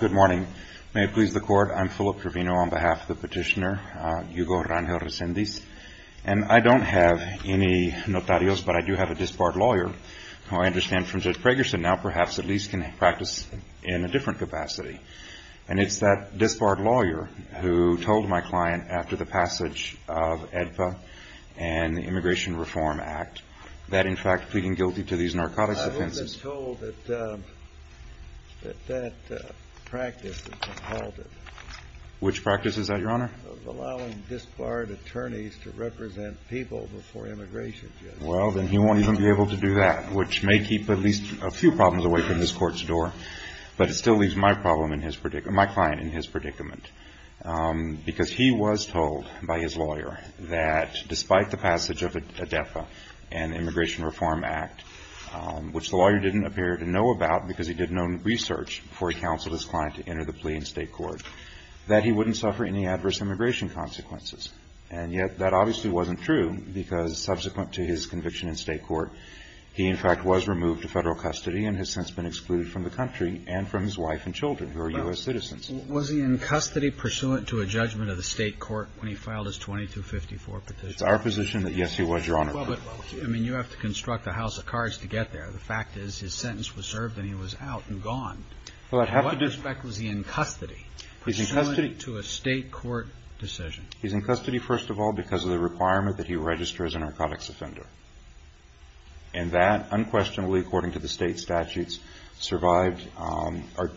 Good morning. May it please the court, I'm Philip Trevino on behalf of the petitioner, Hugo Rangel Resendiz, and I don't have any notarios, but I do have a disbarred lawyer, who I understand from Judge Pragerson now perhaps at least can practice in a different capacity. And it's that disbarred lawyer who told my client after the passage of AEDPA and the Immigration Reform Act that in fact pleading guilty to these narcotics offenses... That practice has been halted. Which practice is that, Your Honor? Allowing disbarred attorneys to represent people before immigration, Judge. Well, then he won't even be able to do that, which may keep at least a few problems away from this court's door, but it still leaves my client in his predicament. Because he was told by his lawyer that despite the passage of AEDPA and Immigration Reform Act, which the lawyer didn't appear to know about because he did no research before he counseled his client to enter the plea in State court, that he wouldn't suffer any adverse immigration consequences. And yet that obviously wasn't true because subsequent to his conviction in State court, he in fact was removed to Federal custody and has since been excluded from the country and from his wife and children, who are U.S. citizens. Was he in custody pursuant to a judgment of the State court when he filed his 2254 petition? Well, but, I mean, you have to construct a house of cards to get there. The fact is his sentence was served and he was out and gone. In what respect was he in custody pursuant to a State court decision? He's in custody, first of all, because of the requirement that he register as a narcotics offender. And that unquestionably, according to the State statutes, survived or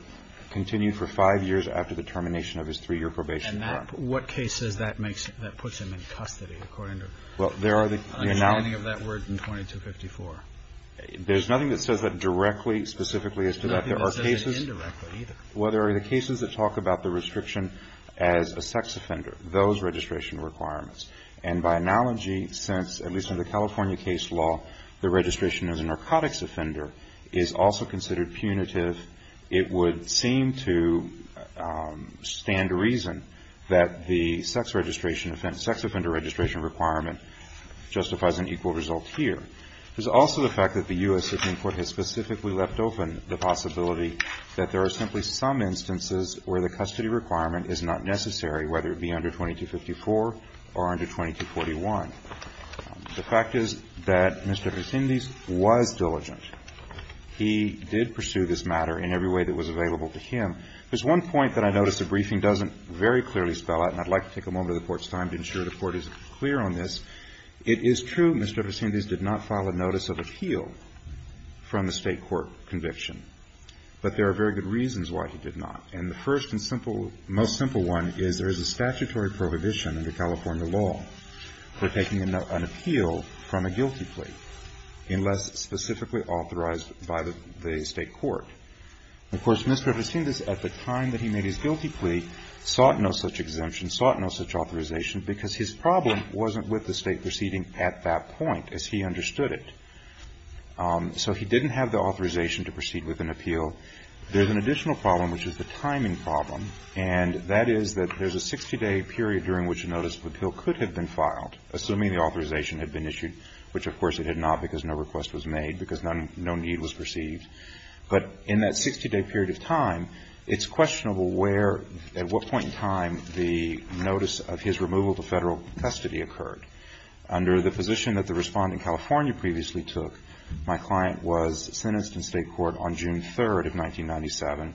continued for five years after the termination of his three-year probation. Well, there are the analogy of that word in 2254. There's nothing that says that directly, specifically as to that. There are cases. Nothing that says that indirectly either. Well, there are the cases that talk about the restriction as a sex offender, those registration requirements. And by analogy, since, at least in the California case law, the registration as a narcotics offender is also considered punitive, it would seem to stand to reason that the sex registration offense, the sex offender registration requirement justifies an equal result here. There's also the fact that the U.S. Supreme Court has specifically left open the possibility that there are simply some instances where the custody requirement is not necessary, whether it be under 2254 or under 2241. The fact is that Mr. Vercindes was diligent. He did pursue this matter in every way that was available to him. There's one point that I noticed the briefing doesn't very clearly spell out, and I'd like to take a moment of the Court's time to ensure the Court is clear on this. It is true Mr. Vercindes did not file a notice of appeal from the State court conviction. But there are very good reasons why he did not. And the first and simple, most simple one is there is a statutory prohibition under California law for taking an appeal from a guilty plea unless specifically authorized by the State court. Of course, Mr. Vercindes at the time that he made his guilty plea sought no such exemption, sought no such authorization because his problem wasn't with the State proceeding at that point, as he understood it. So he didn't have the authorization to proceed with an appeal. There's an additional problem, which is the timing problem. And that is that there's a 60-day period during which a notice of appeal could have been filed, assuming the authorization had been issued, which of course it had not because no request was made, because no need was perceived. But in that 60-day period of time, it's questionable where, at what point in time, the notice of his removal to Federal custody occurred. Under the position that the Respondent in California previously took, my client was sentenced in State court on June 3rd of 1997,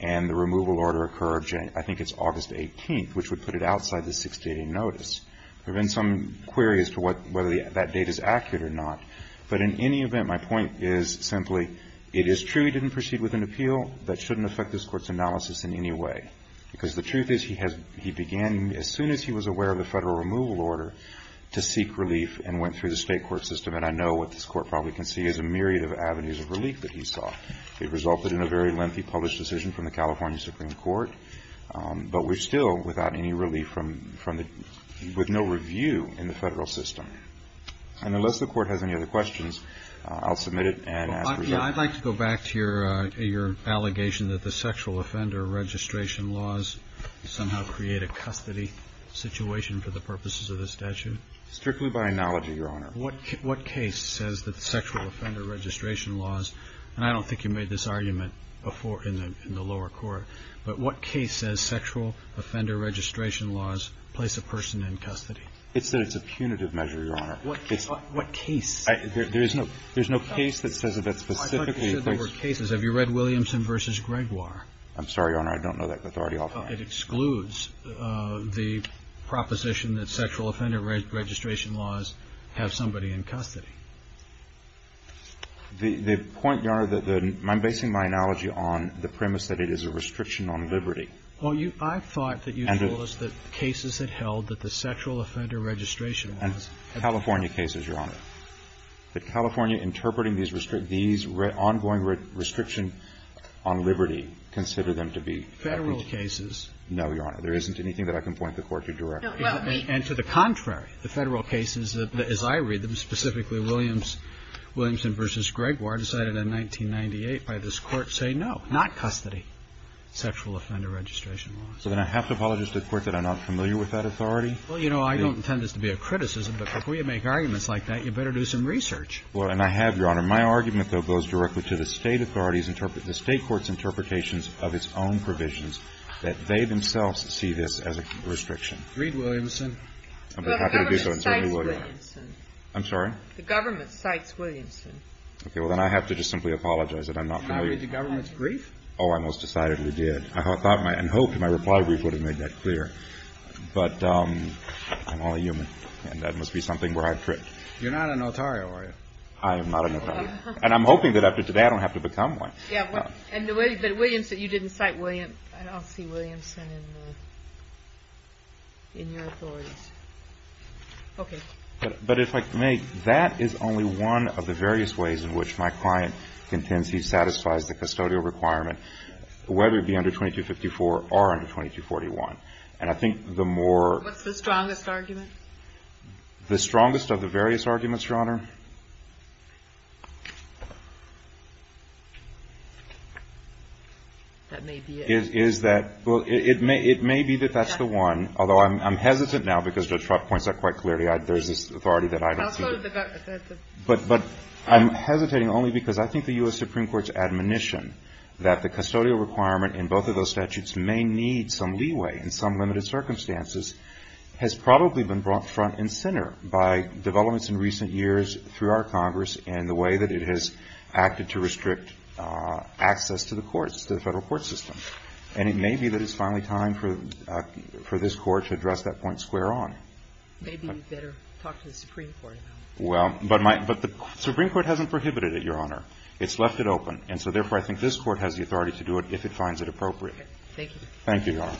and the removal order occurred, I think it's August 18th, which would put it outside the 60-day notice. There have been some queries to whether that date is accurate or not. But in any event, my point is simply, it is true he didn't proceed with an appeal. That shouldn't affect this Court's analysis in any way. Because the truth is, he began, as soon as he was aware of the Federal removal order, to seek relief and went through the State court system. And I know what this Court probably can see is a myriad of avenues of relief that he saw. It resulted in a very lengthy published decision from the California Supreme Court. But we're still without any relief from the – with no review in the Federal system. And unless the Court has any other questions, I'll submit it and ask for your comment. I'd like to go back to your allegation that the sexual offender registration laws somehow create a custody situation for the purposes of this statute. Strictly by analogy, Your Honor. What case says that sexual offender registration laws – and I don't think you made this argument before in the lower court – but what case says sexual offender registration laws place a person in custody? It says it's a punitive measure, Your Honor. What case? There's no case that says that that's specifically in place. I thought you said there were cases. Have you read Williamson v. Gregoire? I'm sorry, Your Honor. I don't know that. That's already off. It excludes the proposition that sexual offender registration laws have somebody in custody. The point, Your Honor, that the – I'm basing my analogy on the premise that it is a restriction on liberty. Well, I thought that you told us that cases that held that the sexual offender registration laws – California cases, Your Honor. That California interpreting these ongoing restriction on liberty consider them to be federal cases. No, Your Honor. There isn't anything that I can point the Court to directly. And to the contrary, the federal cases, as I read them, specifically Williamson v. Gregoire, decided in 1998 by this Court, say no, not custody, sexual offender registration law. So then I have to apologize to the Court that I'm not familiar with that authority? Well, you know, I don't intend this to be a criticism, but before you make arguments like that, you better do some research. Well, and I have, Your Honor. My argument, though, goes directly to the State authorities' – the State court's interpretations of its own provisions that they themselves see this as a restriction. Read Williamson. I'd be happy to do so. The government cites Williamson. I'm sorry? The government cites Williamson. Okay. Well, then I have to just simply apologize that I'm not familiar. Did you read the government's brief? Oh, I most decidedly did. I thought and hoped my reply brief would have made that clear. But I'm only human, and that must be something where I've tripped. You're not a notario, are you? I am not a notario. And I'm hoping that after today I don't have to become one. Yeah. But Williamson – you didn't cite William – I don't see Williamson in the – in your authorities. Okay. But if I may, that is only one of the various ways in which my client intends he satisfies the custodial requirement, whether it be under 2254 or under 2241. And I think the more – What's the strongest argument? The strongest of the various arguments, Your Honor? That may be it. Is that – well, it may be that that's the one, although I'm hesitant now because Judge Trott points out quite clearly there's this authority that I don't see. I'll go to the – But I'm hesitating only because I think the U.S. Supreme Court's admonition that the custodial requirement in both of those statutes may need some leeway in some limited circumstances has probably been brought front and center by developments in recent years through our Congress and the way that it has acted to restrict access to the courts, to the Federal court system. And it may be that it's finally time for this Court to address that point square Maybe we'd better talk to the Supreme Court about it. Well, but my – but the Supreme Court hasn't prohibited it, Your Honor. It's left it open. And so, therefore, I think this Court has the authority to do it if it finds it appropriate. Thank you. Thank you, Your Honor.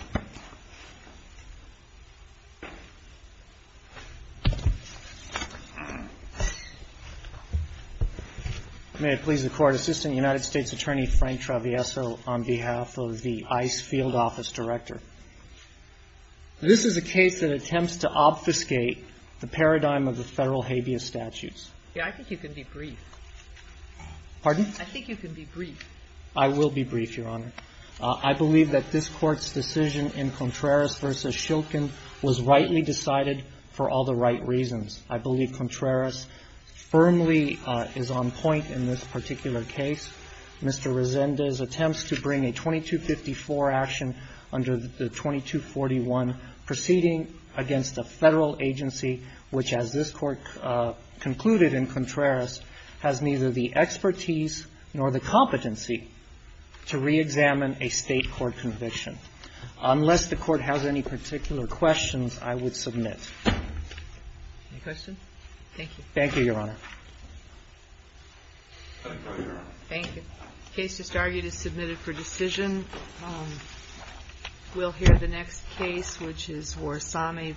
May it please the Court. Assistant United States Attorney Frank Travieso on behalf of the ICE field office director. This is a case that attempts to obfuscate the paradigm of the Federal habeas statutes. Yeah, I think you can be brief. Pardon? I think you can be brief. I will be brief, Your Honor. I believe that this Court's decision in Contreras v. Shilkin was rightly decided for all the right reasons. I believe Contreras firmly is on point in this particular case. Mr. Resendez attempts to bring a 2254 action under the 2241 proceeding against a Federal agency which, as this Court concluded in Contreras, has neither the expertise nor the competency to reexamine a State court conviction. Unless the Court has any particular questions, I would submit. Any questions? Thank you. Thank you, Your Honor. Thank you, Your Honor. Thank you. The case just argued is submitted for decision. We'll hear the next case, which is Warsame v. Gonzalez.